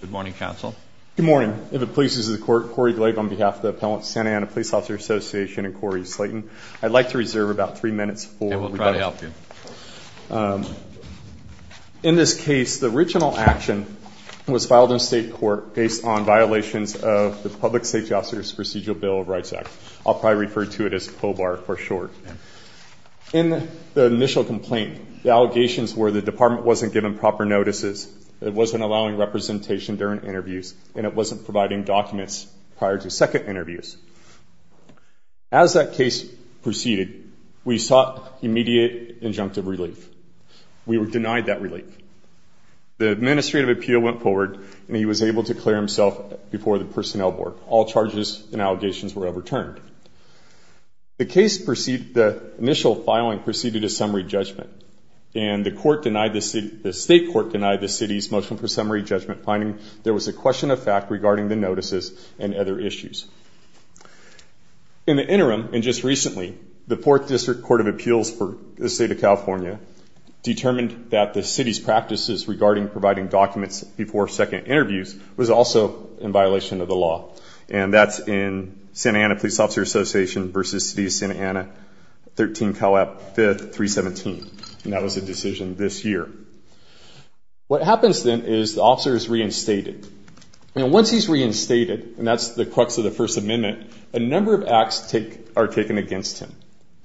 Good morning, counsel. Good morning. If it pleases the court, Cory Glabe on behalf of the Appellant Santa Ana Police Officers Association and Cory Slayton. I'd like to reserve about three minutes. We'll try to help you. In this case the original action was filed in state court based on violations of the Public Safety Officers Procedural Bill of Rights Act. I'll probably refer to it as POBAR for short. In the initial complaint the allegations were the department wasn't given proper notices, it wasn't allowing representation during interviews, and it wasn't providing documents prior to second interviews. As that case proceeded we sought immediate injunctive relief. We were denied that relief. The administrative appeal went forward and he was able to clear himself before the personnel board. All charges and allegations were overturned. The case preceded, the initial filing preceded a summary judgment and the court denied the state court denied the city's motion for summary judgment finding there was a question of fact regarding the notices and other issues. In the interim and just recently the 4th District Court of Appeals for the state of California determined that the city's practices regarding providing documents before second interviews was also in violation of the law and that's in Santa Ana Police Officers Association v. City of Santa Ana 13 COAP 5th 317 and that was a What happens then is the officer is reinstated and once he's reinstated and that's the crux of the First Amendment a number of acts are taken against him.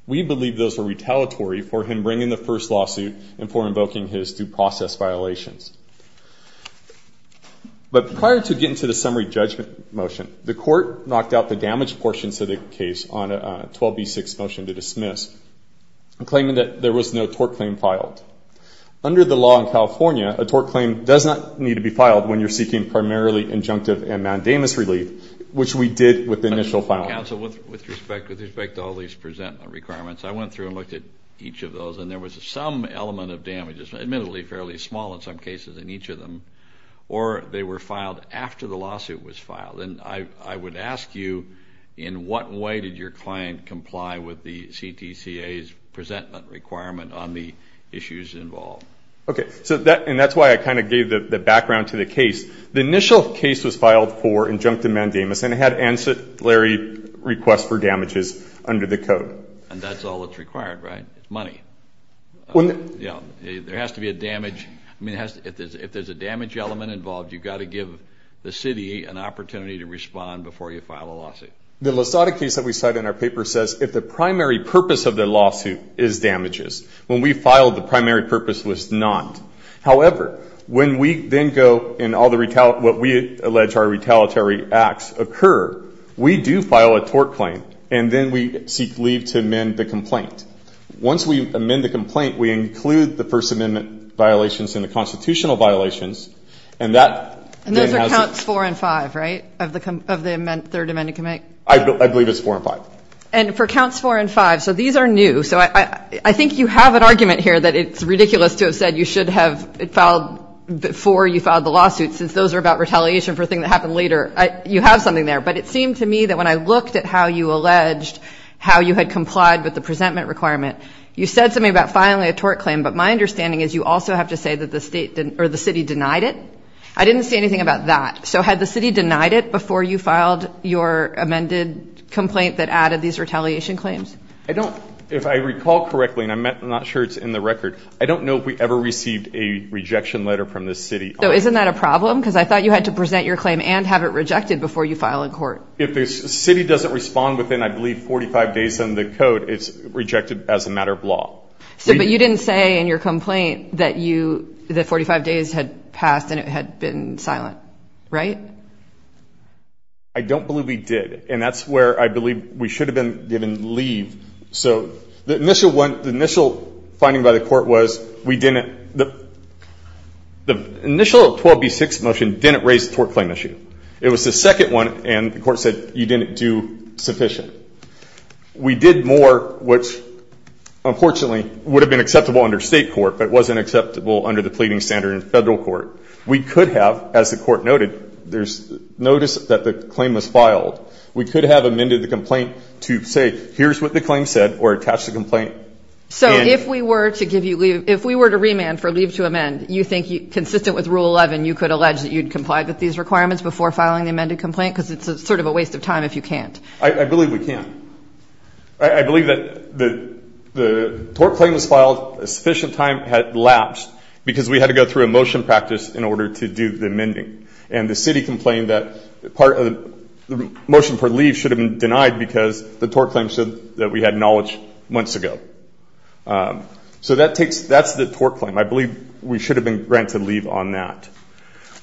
We believe those were retaliatory for him bringing the first lawsuit and for invoking his due process violations. But prior to getting to the summary judgment motion the court knocked out the damage portions of the case on a 12b6 motion to the law in California, a tort claim does not need to be filed when you're seeking primarily injunctive and mandamus relief which we did with the initial filing. With respect to all these presentment requirements I went through and looked at each of those and there was some element of damages admittedly fairly small in some cases in each of them or they were filed after the lawsuit was filed and I would ask you in what way did your client comply with the CTCA's presentment requirement on the issues involved? Okay so that and that's why I kind of gave the background to the case. The initial case was filed for injunctive mandamus and it had ancillary requests for damages under the code. And that's all that's required right? Money. When you know there has to be a damage I mean it has if there's a damage element involved you've got to give the city an opportunity to respond before you file a lawsuit. The Lasada case that we cite in our paper says if the primary purpose of the lawsuit is damages. When we filed the primary purpose was not. However when we then go in all the retaliate what we allege our retaliatory acts occur we do file a tort claim and then we seek leave to amend the complaint. Once we amend the complaint we include the First Amendment violations in the constitutional violations and that. And those are counts four and five right? Of the third amendment can make? I believe it's four and five. And for counts four and five so these are new so I I think you have an argument here that it's ridiculous to have said you should have filed before you filed the lawsuit since those are about retaliation for a thing that happened later. You have something there but it seemed to me that when I looked at how you alleged how you had complied with the presentment requirement you said something about filing a tort claim but my understanding is you also have to say that the state or the city denied it? I didn't see anything about that. So had the city denied it before you filed your amended complaint that added these retaliation claims? I don't if I recall correctly and I'm not sure it's in the record I don't know if we ever received a rejection letter from the city. So isn't that a problem because I thought you had to present your claim and have it rejected before you file in court. If the city doesn't respond within I believe 45 days in the code it's rejected as a matter of law. So but you didn't say in your complaint that you the 45 days had passed and it had been silent right? I don't believe we did and that's where I believe we should have been given leave. So the initial one the initial finding by the court was we didn't the the initial 12b6 motion didn't raise the tort claim issue. It was the second one and the court said you didn't do sufficient. We did more which unfortunately would have been acceptable under state court but wasn't acceptable under the pleading standard in federal court. We could have as the court noted there's notice that the claim was filed we could have amended the complaint to say here's what the claim said or attach the complaint. So if we were to give you leave if we were to remand for leave to amend you think you consistent with rule 11 you could allege that you'd complied with these requirements before filing the amended complaint because it's a sort of a waste of time if you can't. I believe we can. I believe that the the sufficient time had lapsed because we had to go through a motion practice in order to do the amending and the city complained that part of the motion for leave should have been denied because the tort claim said that we had knowledge months ago. So that takes that's the tort claim. I believe we should have been granted leave on that.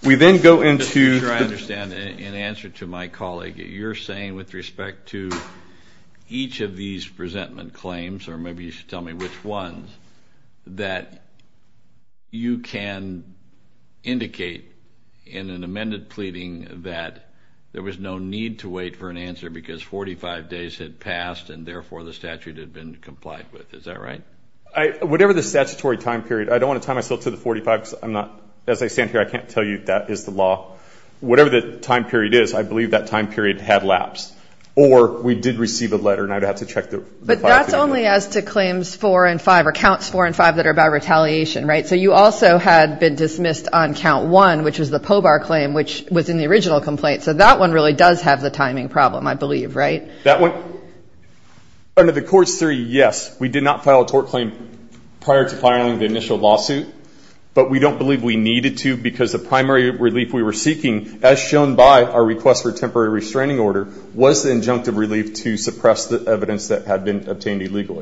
We then go into... I understand in answer to my colleague you're saying with respect to each of these presentment claims or maybe you should tell me which ones that you can indicate in an amended pleading that there was no need to wait for an answer because 45 days had passed and therefore the statute had been complied with is that right? I whatever the statutory time period I don't want to tie myself to the 45 because I'm not as I stand here I can't tell you that is the law. Whatever the time period is I believe that time period had lapsed or we did receive a letter and I'd have to But that's only as to claims four and five or counts four and five that are about retaliation right so you also had been dismissed on count one which was the Pobar claim which was in the original complaint so that one really does have the timing problem I believe right? That one under the courts theory yes we did not file a tort claim prior to filing the initial lawsuit but we don't believe we needed to because the primary relief we were seeking as shown by our request for temporary restraining order was the injunctive relief to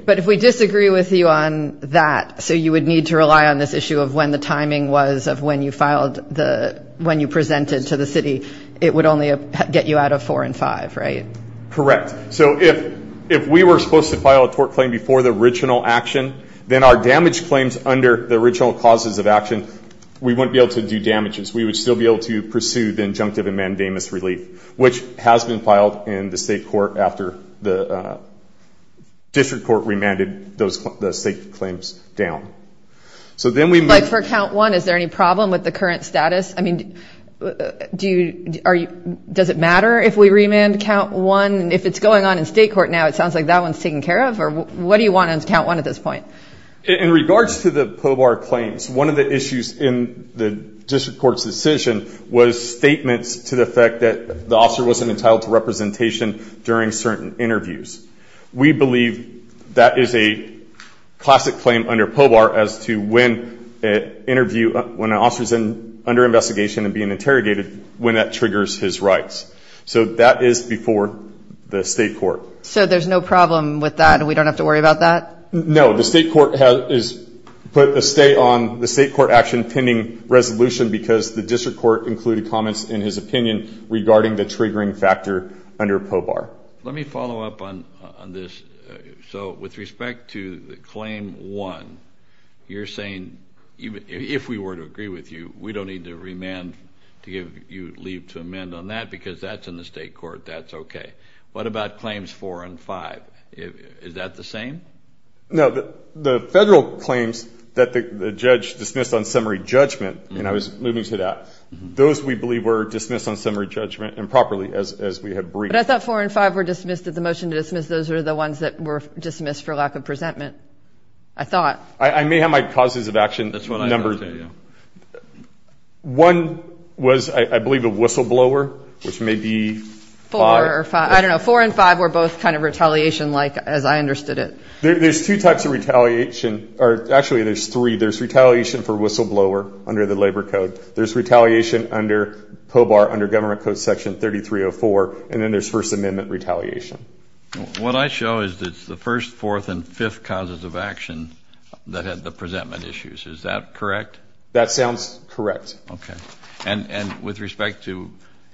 But if we disagree with you on that so you would need to rely on this issue of when the timing was of when you filed the when you presented to the city it would only get you out of four and five right? Correct so if if we were supposed to file a tort claim before the original action then our damage claims under the original causes of action we wouldn't be able to do damages we would still be able to pursue the injunctive and mandamus relief which has been filed in the state court after the district court remanded those the state claims down. So then we like for count one is there any problem with the current status I mean do you are you does it matter if we remand count one and if it's going on in state court now it sounds like that one's taken care of or what do you want on count one at this point? In regards to the Pobar claims one of the issues in the district courts decision was statements to the effect that the officer wasn't entitled to representation during certain interviews. We believe that is a classic claim under Pobar as to when an interview when an officer's in under investigation and being interrogated when that triggers his rights so that is before the state court. So there's no problem with that we don't have to worry about that? No the state court has put a stay on the state court action pending resolution because the district court included comments in his opinion regarding the triggering factor under Pobar. Let me follow up on this so with respect to the claim one you're saying even if we were to agree with you we don't need to remand to give you leave to amend on that because that's in the state court that's okay. What about claims four and five is that the same? No the federal claims that the judge dismissed on summary judgment and I was moving to that those we believe were dismissed on summary judgment and properly as we have briefed. But I thought four and five were dismissed at the motion to dismiss those are the ones that were dismissed for lack of presentment I thought. I may have my causes of action numbers. One was I believe a whistleblower which may be four or five I don't know four and five were both kind of retaliation like as I understood it. There's two types of retaliation or actually there's three there's retaliation for whistleblower under the labor code there's retaliation under Pobar under government code section 3304 and then there's First Amendment retaliation. What I show is it's the first fourth and fifth causes of action that had the presentment issues is that correct? That sounds correct. Okay and and with respect to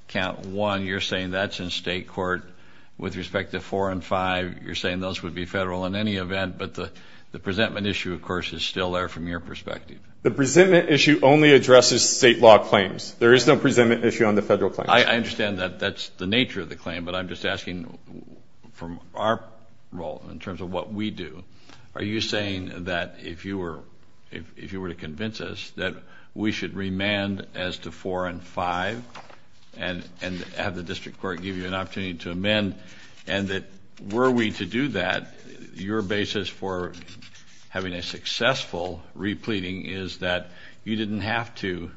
count one you're saying that's in state court with respect to four and five you're saying those would be federal in any event but the the presentment issue of course is still there from your perspective. The presentment issue only addresses state law claims there is no presentment issue on the federal claim. I understand that that's the nature of the claim but I'm just asking from our role in terms of what we do are you saying that if you were if you were to convince us that we should remand as to four and five and and have the district court give you an opportunity to amend and that were we to do that your basis for having a successful repleting is that you didn't have to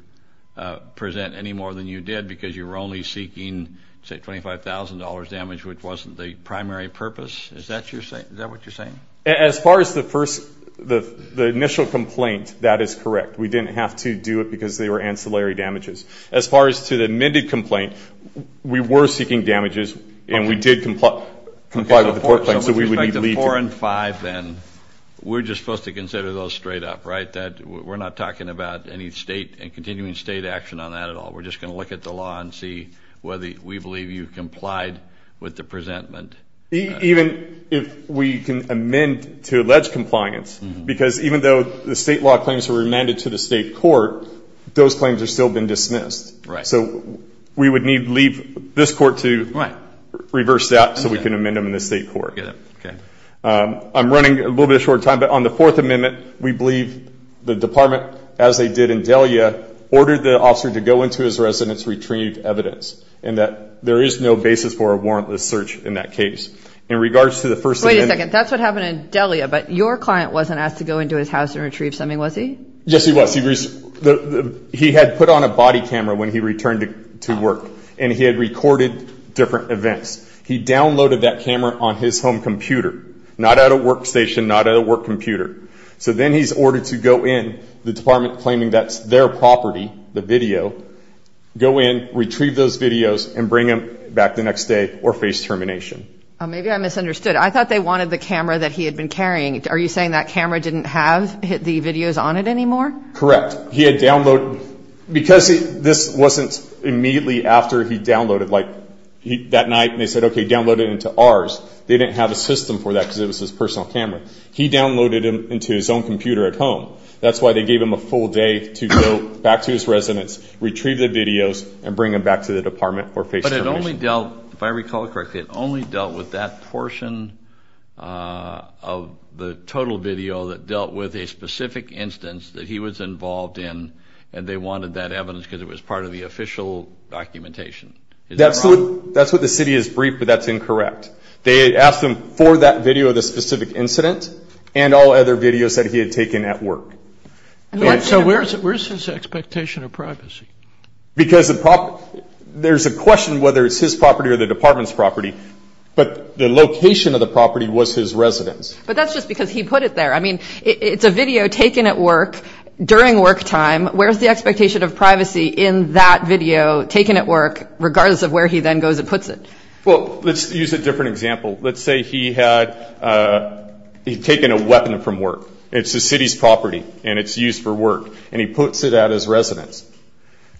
present any more than you did because you were only seeking say $25,000 damage which wasn't the primary purpose is that you're saying that what you're saying? As far as the first the the initial complaint that is correct we didn't have to do it because they were ancillary damages. As far as to the amended complaint we were seeking damages and we did comply with the court claim. So with respect to four and five then we're just supposed to consider those straight up right that we're not talking about any state and continuing state action on that at all we're just going to look at the law and see whether we believe you complied with the presentment. Even if we can amend to allege compliance because even though the state law claims were remanded to the state court those claims are still been dismissed. Right. So we would need leave this court to reverse that so we can amend them in the state court. I'm running a little bit short time but on the fourth amendment we believe the department as they did in Delia ordered the officer to go into his residence retrieve evidence and that there is no basis for a warrantless search in that case. In regards to the first... Wait a second that's what happened in Delia but your client wasn't asked to go into his house and retrieve something was he? Yes he was. He had put on a body camera when he recorded different events. He downloaded that camera on his home computer not at a workstation not at a work computer. So then he's ordered to go in the department claiming that's their property the video go in retrieve those videos and bring him back the next day or face termination. Maybe I misunderstood I thought they wanted the camera that he had been carrying are you saying that camera didn't have hit the videos on it anymore? Correct he had downloaded because this wasn't immediately after he downloaded like that night they said okay download it into ours they didn't have a system for that because it was his personal camera he downloaded him into his own computer at home that's why they gave him a full day to go back to his residence retrieve the videos and bring him back to the department or face termination. But it only dealt if I recall correctly it only dealt with that portion of the total video that dealt with a specific instance that he was involved in and they wanted that evidence because it was part of the official documentation. That's what the city has briefed but that's incorrect. They asked him for that video of the specific incident and all other videos that he had taken at work. So where's his expectation of privacy? Because the problem there's a question whether it's his property or the department's property but the location of the property was his residence. But during work time where's the expectation of privacy in that video taken at work regardless of where he then goes and puts it? Well let's use a different example. Let's say he had taken a weapon from work. It's the city's property and it's used for work and he puts it at his residence.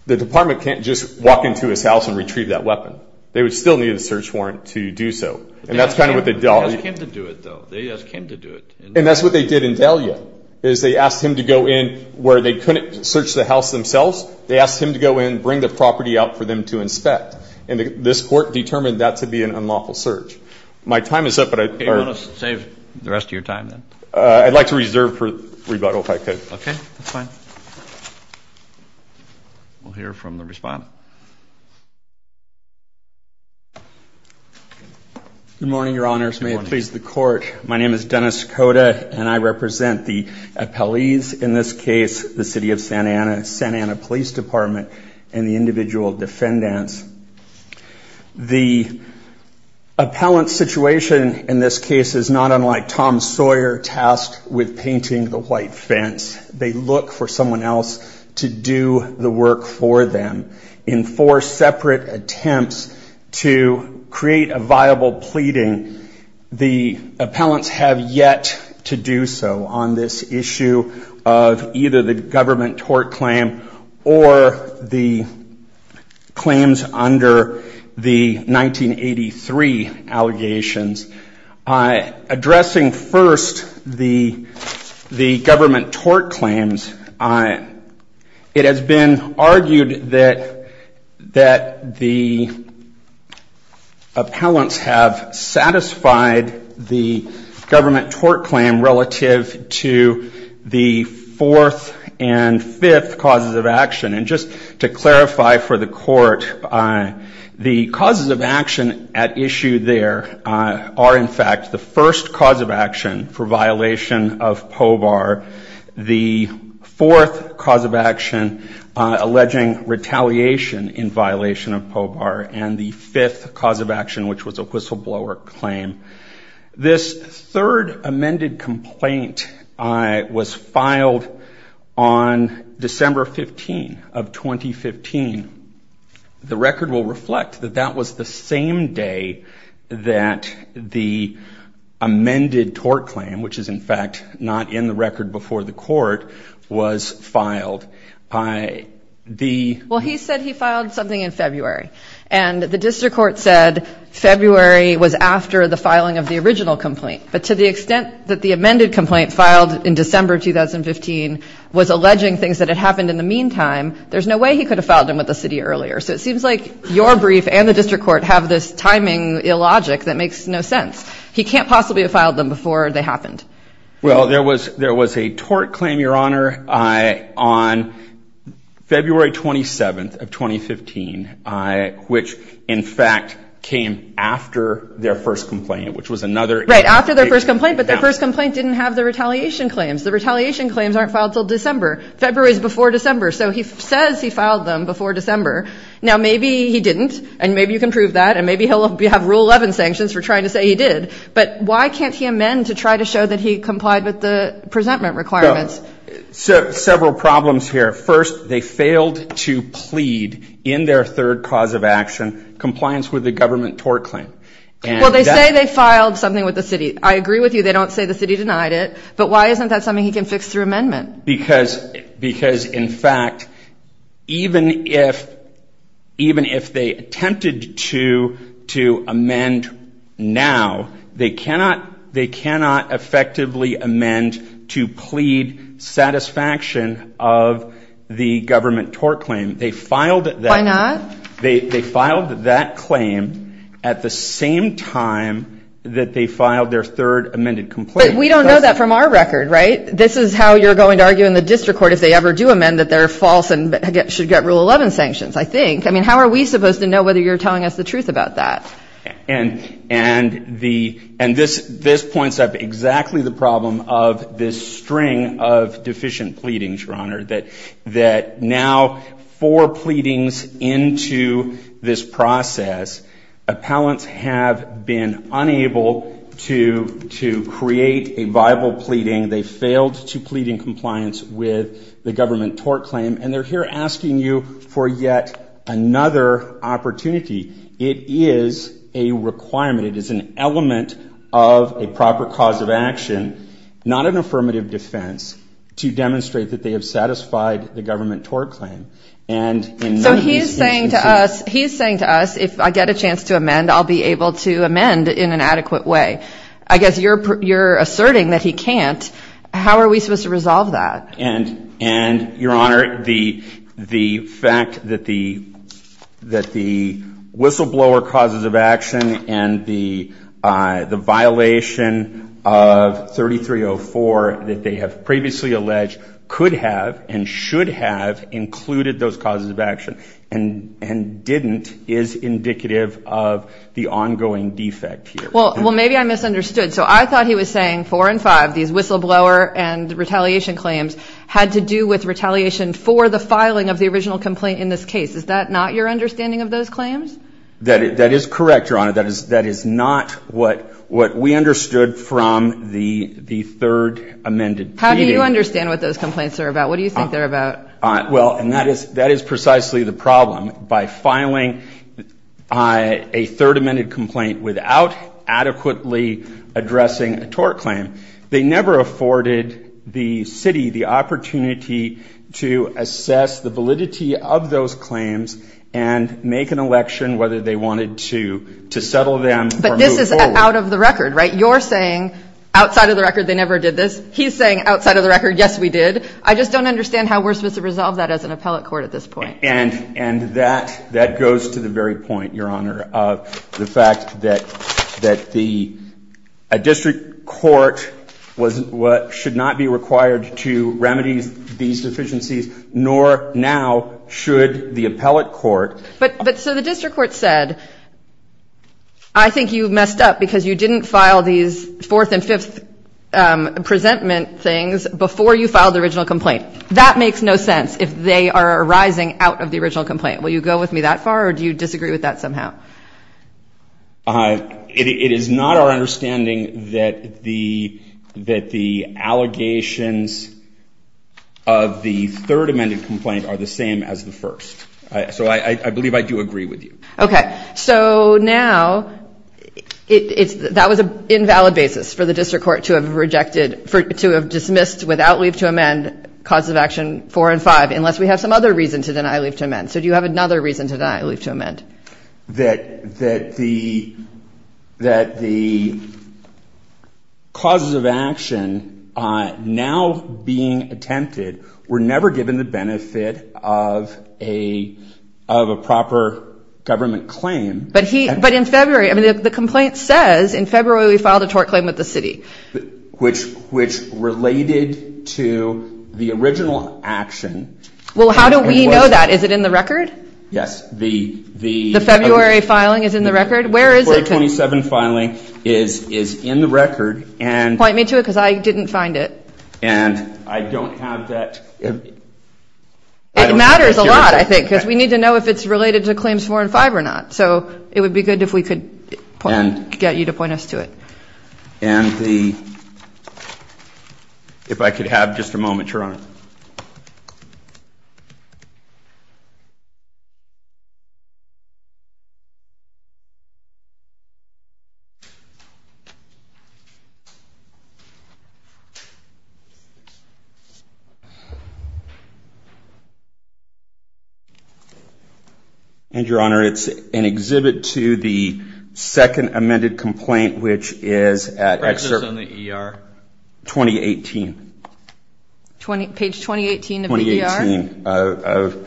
The department can't just walk into his house and retrieve that weapon. They would still need a search warrant to do so and that's kind of what they dealt with. And that's what they did in Delia is they asked him to go in where they couldn't search the house themselves. They asked him to go in bring the property out for them to inspect and this court determined that to be an unlawful search. My time is up but I'd like to reserve for rebuttal if I could. Okay we'll hear from the respondent. Good morning your honors. May it please the court. My name is Dennis Cota and I represent the appellees in this case the city of Santa Ana, Santa Ana Police Department and the individual defendants. The appellant situation in this case is not unlike Tom Sawyer tasked with painting the white fence. They look for someone else to do the work for them in four separate attempts to create a pleading. The appellants have yet to do so on this issue of either the government tort claim or the claims under the 1983 allegations. Addressing first the the government tort claims, it has been argued that that the appellants have satisfied the government tort claim relative to the fourth and fifth causes of action and just to clarify for the court, the causes of action at issue there are in fact the first cause of action for violation of POBAR, the fourth cause of action alleging retaliation in violation of which was a whistleblower claim. This third amended complaint was filed on December 15 of 2015. The record will reflect that that was the same day that the amended tort claim, which is in fact not in the record before the court, was filed. Well he said he filed something in February and the district court said February was after the filing of the original complaint, but to the extent that the amended complaint filed in December 2015 was alleging things that had happened in the meantime, there's no way he could have filed them with the city earlier. So it seems like your brief and the district court have this timing illogic that makes no sense. He can't possibly have filed them before they happened. Well there was there was a tort claim your honor on February 27th of 2015, which in fact came after their first complaint, which was another. Right, after their first complaint, but their first complaint didn't have the retaliation claims. The retaliation claims aren't filed till December. February is before December, so he says he filed them before December. Now maybe he didn't, and maybe you can prove that, and maybe he'll have rule 11 sanctions for trying to say he did, but why can't he amend to try to show that he complied with the presentment requirements? So several problems here. First, they failed to plead in their third cause of action compliance with the government tort claim. Well they say they filed something with the city. I agree with you, they don't say the city denied it, but why isn't that something he can fix through amendment? Because in fact, even if they attempted to amend now, they cannot effectively amend to plead satisfaction of the government tort claim. They filed that. Why not? They filed that claim at the same time that they filed their third amended complaint. But we don't know that from our record, right? This is how you're going to argue in the district court if they ever do amend that they're false and should get rule 11 sanctions, I think. I mean, how are we supposed to know whether you're telling us the truth about that? And this points up exactly the problem of this string of deficient pleadings, Your Honor, that now four pleadings into this process, appellants have been unable to create a viable pleading. They failed to plead in compliance with the government tort claim, and they're here asking you for yet another opportunity. It is a requirement. It is an element of a proper cause of action, not an affirmative defense, to demonstrate that they have satisfied the government tort claim. So he's saying to us, he's saying to us, if I get a chance to amend, I'll be able to amend in an adequate way. I guess you're asserting that he can't. How are we supposed to resolve that? And, Your Honor, the fact that the whistleblower causes of action and the violation of 3304 that they have previously alleged could have and should have included those causes of action and didn't is indicative of the ongoing defect here. Well, maybe I misunderstood. So I thought he was saying four and five, these whistleblower and retaliation claims, had to do with retaliation for the filing of the original complaint in this case. Is that not your understanding of those claims? That is correct, Your Honor. That is not what we understood from the third amended. How do you understand what those complaints are about? What do you think they're about? Well, and that is precisely the problem. By filing a third amended complaint without adequately addressing a tort claim, they never afforded the city the opportunity to assess the And that goes to the very point, Your Honor, of the fact that the district court should not be required to remedy these deficiencies, nor now should the appellate court afford the city the opportunity to assess the deficiencies to resolve that as an appellate court at this point. So the district court said, I think you messed up because you didn't file these fourth and fifth presentment things before you filed the original complaint. That makes no sense if they are arising out of the original complaint. Will you go with me that far or do you disagree with that somehow? It is not our understanding that the allegations of the third amended complaint are the same as the first. So I believe I do agree with you. Okay. So now that was an invalid basis for the district court to have rejected, to have dismissed without leave to amend causes of action four and five, unless we have some other reason to deny leave to amend. So do you have another reason to deny leave to amend? That the causes of action now being attempted were never given the benefit of a proper government claim. But in February, the complaint says in February we filed a tort claim with the city. Which related to the original action. Well, how do we know that? Is it in the record? Yes. The February filing is in the record? The February 27 filing is in the record. Point me to it because I didn't find it. And I don't have that. It matters a lot I think because we need to know if it's related to claims four and five or not. So it would be good if we could get you to point us to it. And the, if I could have just a moment, Your Honor. And Your Honor, it's an exhibit to the second page 2018 of the ER.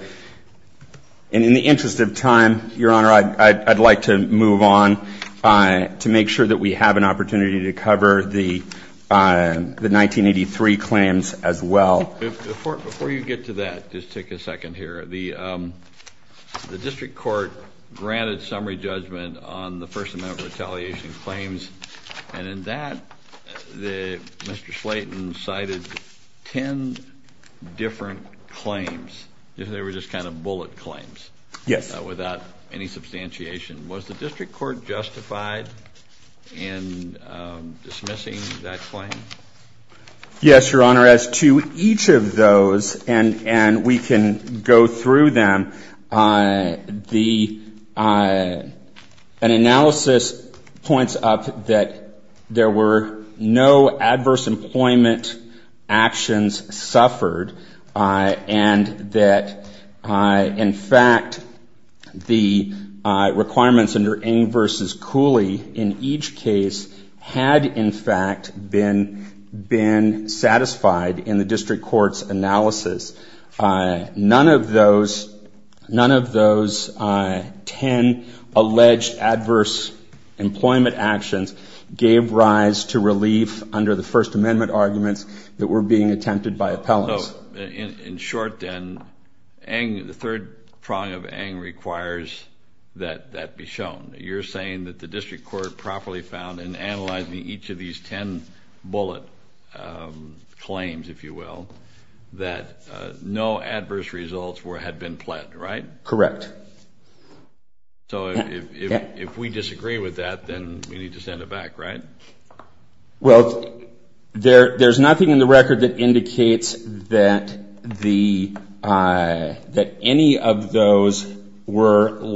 And in the interest of time, Your Honor, I'd like to move on to make sure that we have an opportunity to cover the 1983 claims as well. Before you get to that, just take a second here. The district court granted summary judgment on the first amendment retaliation claims. And in that, Mr. Slayton cited ten different claims. They were just kind of bullet claims. Yes. Without any substantiation. Was the district court justified in dismissing that claim? Yes, Your Honor. As to each of those, and we can go through them, the, an analysis points up that there were no adverse employment actions suffered and that, in fact, the requirements under Ng versus Cooley in each case had, in fact, been satisfied in the district court's analysis. None of those, none of those ten alleged adverse employment actions gave rise to relief under the first amendment arguments that were being attempted by appellants. In short, then, Ng, the third prong of Ng requires that that be shown. You're saying that the district court properly found in analyzing each of these ten bullet claims, if you will, that no adverse results had been pled, right? Correct. So if we disagree with that, then we need to send it back, right? Well, there's nothing in the record that indicates that any of those were those, Your Honor, that,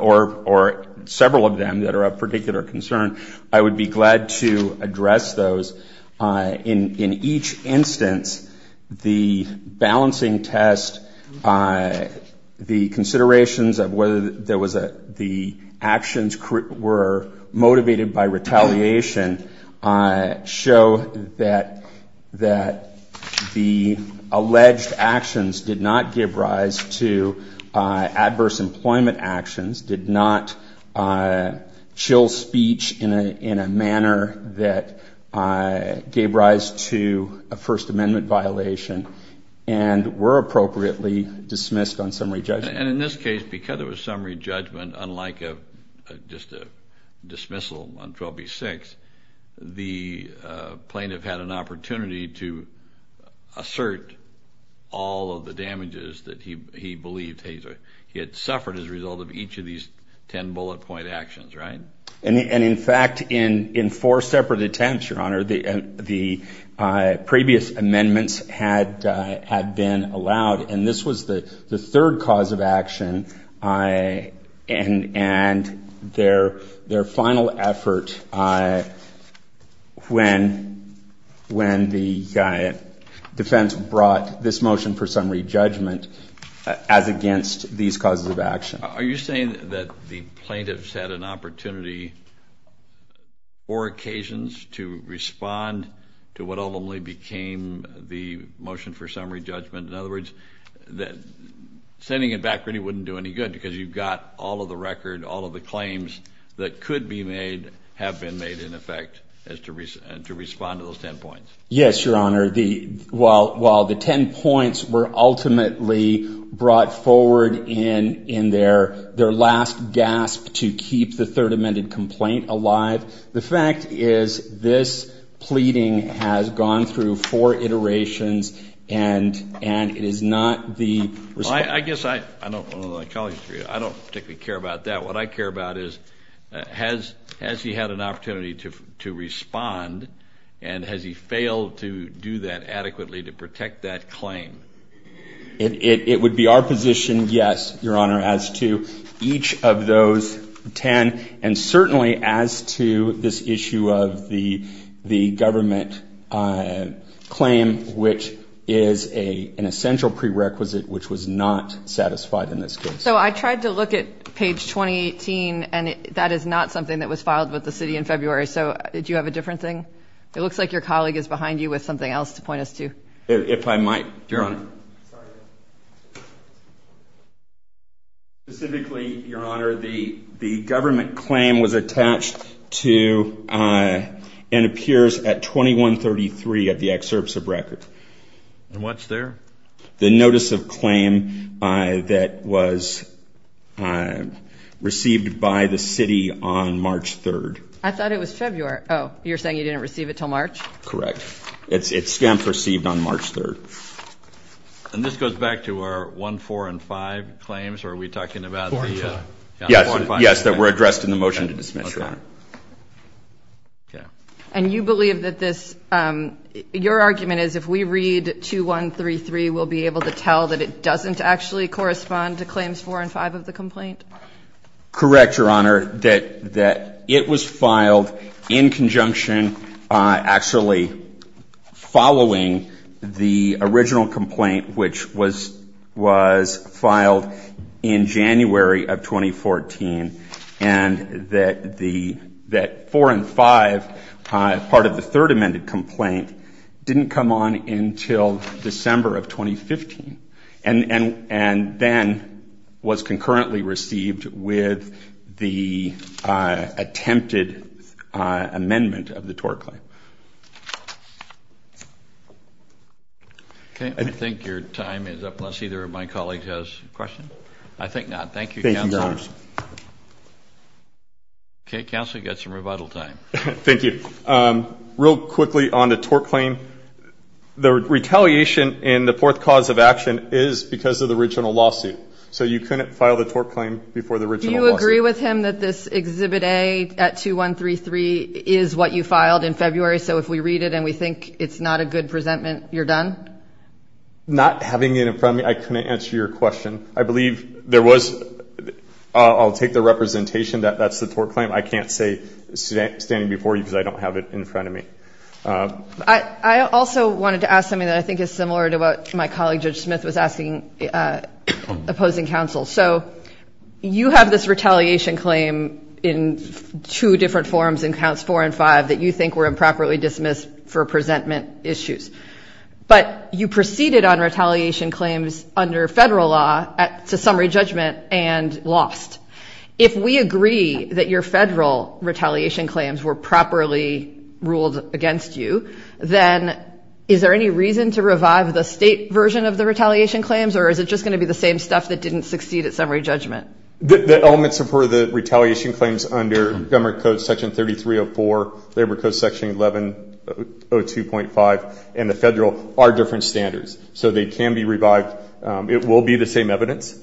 or several of them that are of particular concern, I would be glad to address those. In each instance, the balancing test, the considerations of whether there was a, the actions were motivated by retaliation show that the alleged actions did not give rise to adverse employment actions, did not chill speech in a manner that gave rise to a first amendment violation and were appropriately dismissed on summary judgment. And in this case, because there was summary judgment, unlike just a dismissal on 12B6, the plaintiff had an opportunity to assert all of the damages that he believed he had suffered as a result of each of these ten bullet point actions, right? And in fact, in four separate attempts, Your Honor, the previous amendments had been allowed, and this was the third cause of action, and their final effort when the defense brought this motion for summary judgment as against these causes of action. Are you saying that the plaintiffs had an opportunity or occasions to respond to what ultimately became the motion for summary judgment? In other words, that sending it back really wouldn't do any good because you've got all of the record, all of the claims that could be made have been made in effect as to respond to those ten points. Yes, Your Honor. While the ten points were ultimately brought forward in their last gasp to keep the third amended complaint alive, the fact is this pleading has gone through four iterations and it is not the response. Well, I guess I don't particularly care about that. What I care about is has he had an opportunity to respond, and has he failed to do that adequately to protect that claim? It would be our position, yes, Your Honor, as to each of those ten, and certainly as to this issue of the government claim, which is an essential prerequisite which was not satisfied in this case. So I tried to look at page 2018, and that is not something that was filed with the city in February. So do you have a different thing? It looks like your colleague is behind you with something else to point us to. If I might. Your Honor. Specifically, Your Honor, the government claim was attached to and appears at 2133 at the excerpts of record. And what's there? The notice of claim that was received by the city on March 3rd. I thought it was February. Oh, you're saying you didn't receive it until March? Correct. It's received on March 3rd. And this goes back to our 1, 4, and 5 claims, or are we talking about the 4 and 5? Yes, that were addressed in the motion to dismiss, Your Honor. Okay. And you believe that this, your argument is if we read 2133, we'll be able to tell that it doesn't actually correspond to claims 4 and 5 of the complaint? Correct, Your Honor, that it was filed in conjunction, actually following the original complaint, which was filed in January of 2014, and that 4 and 5, part of the third amended complaint, didn't come on until December of 2015. And then was concurrently received with the attempted amendment of the tort claim. Okay. I think your time is up unless either of my colleagues has a question. I think not. Thank you, Counselor. Thank you, Your Honor. Okay, Counselor, you've got some rebuttal time. Thank you. Real quickly on the tort claim, the retaliation in the fourth cause of action is because of the original lawsuit. So you couldn't file the tort claim before the original lawsuit. Do you agree with him that this Exhibit A at 2133 is what you filed in February? So if we read it and we think it's not a good presentment, you're done? Not having it in front of me, I couldn't answer your question. I believe there was, I'll take the representation that that's the tort claim. I can't say standing before you because I don't have it in front of me. I also wanted to ask something that I think is similar to what my colleague, Judge Smith, was asking opposing counsel. So you have this retaliation claim in two different forms in counts four and five that you think were improperly dismissed for presentment issues. But you proceeded on retaliation claims under federal law to summary judgment and lost. If we agree that your federal retaliation claims were properly ruled against you, then is there any reason to revive the state version of the retaliation claims or is it just going to be the same stuff that didn't succeed at summary judgment? The elements of the retaliation claims under Government Code Section 3304, Labor Code Section 1102.5, and the federal are different standards. So they can be revived. It will be the same evidence.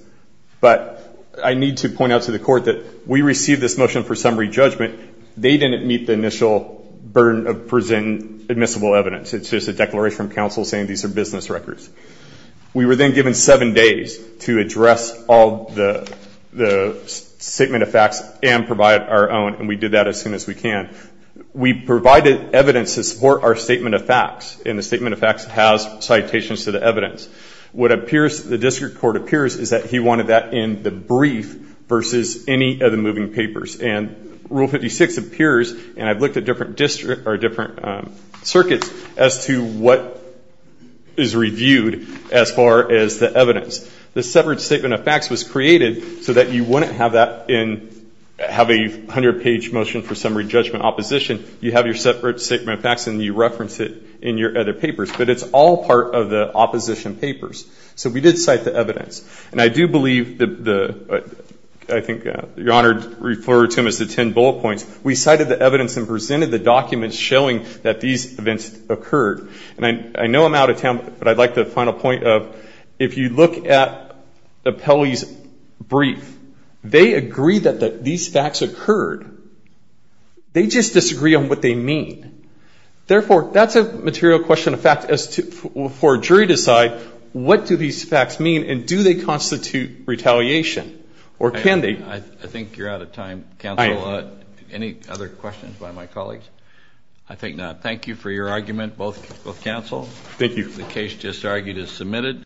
But I need to point out to the court that we received this motion for summary judgment. They didn't meet the initial burden of present admissible evidence. It's just a declaration from counsel saying these are business records. We were then given seven days to address all the statement of facts and provide our own, and we did that as soon as we can. We provided evidence to support our statement of facts, and the statement of facts has citations to the evidence. What appears, the district court appears, is that he wanted that in the brief versus any of the moving papers. And Rule 56 appears, and I've looked at different circuits as to what is reviewed as far as the evidence. The separate statement of facts was created so that you wouldn't have that in, have a 100-page motion for summary judgment opposition. You have your separate statement of facts, and you reference it in your other papers. But it's all part of the opposition papers. So we did cite the evidence. And I do believe the, I think your Honor referred to them as the ten bullet points. We cited the evidence and presented the documents showing that these events occurred. And I know I'm out of time, but I'd like the final point of, if you look at the Pelley's brief, they agree that these facts occurred. They just disagree on what they mean. Therefore, that's a material question of facts for a jury to decide. What do these facts mean, and do they constitute retaliation? Or can they? I think you're out of time, counsel. Any other questions by my colleagues? I think not. Thank you for your argument, both counsel. Thank you. The case just argued is submitted.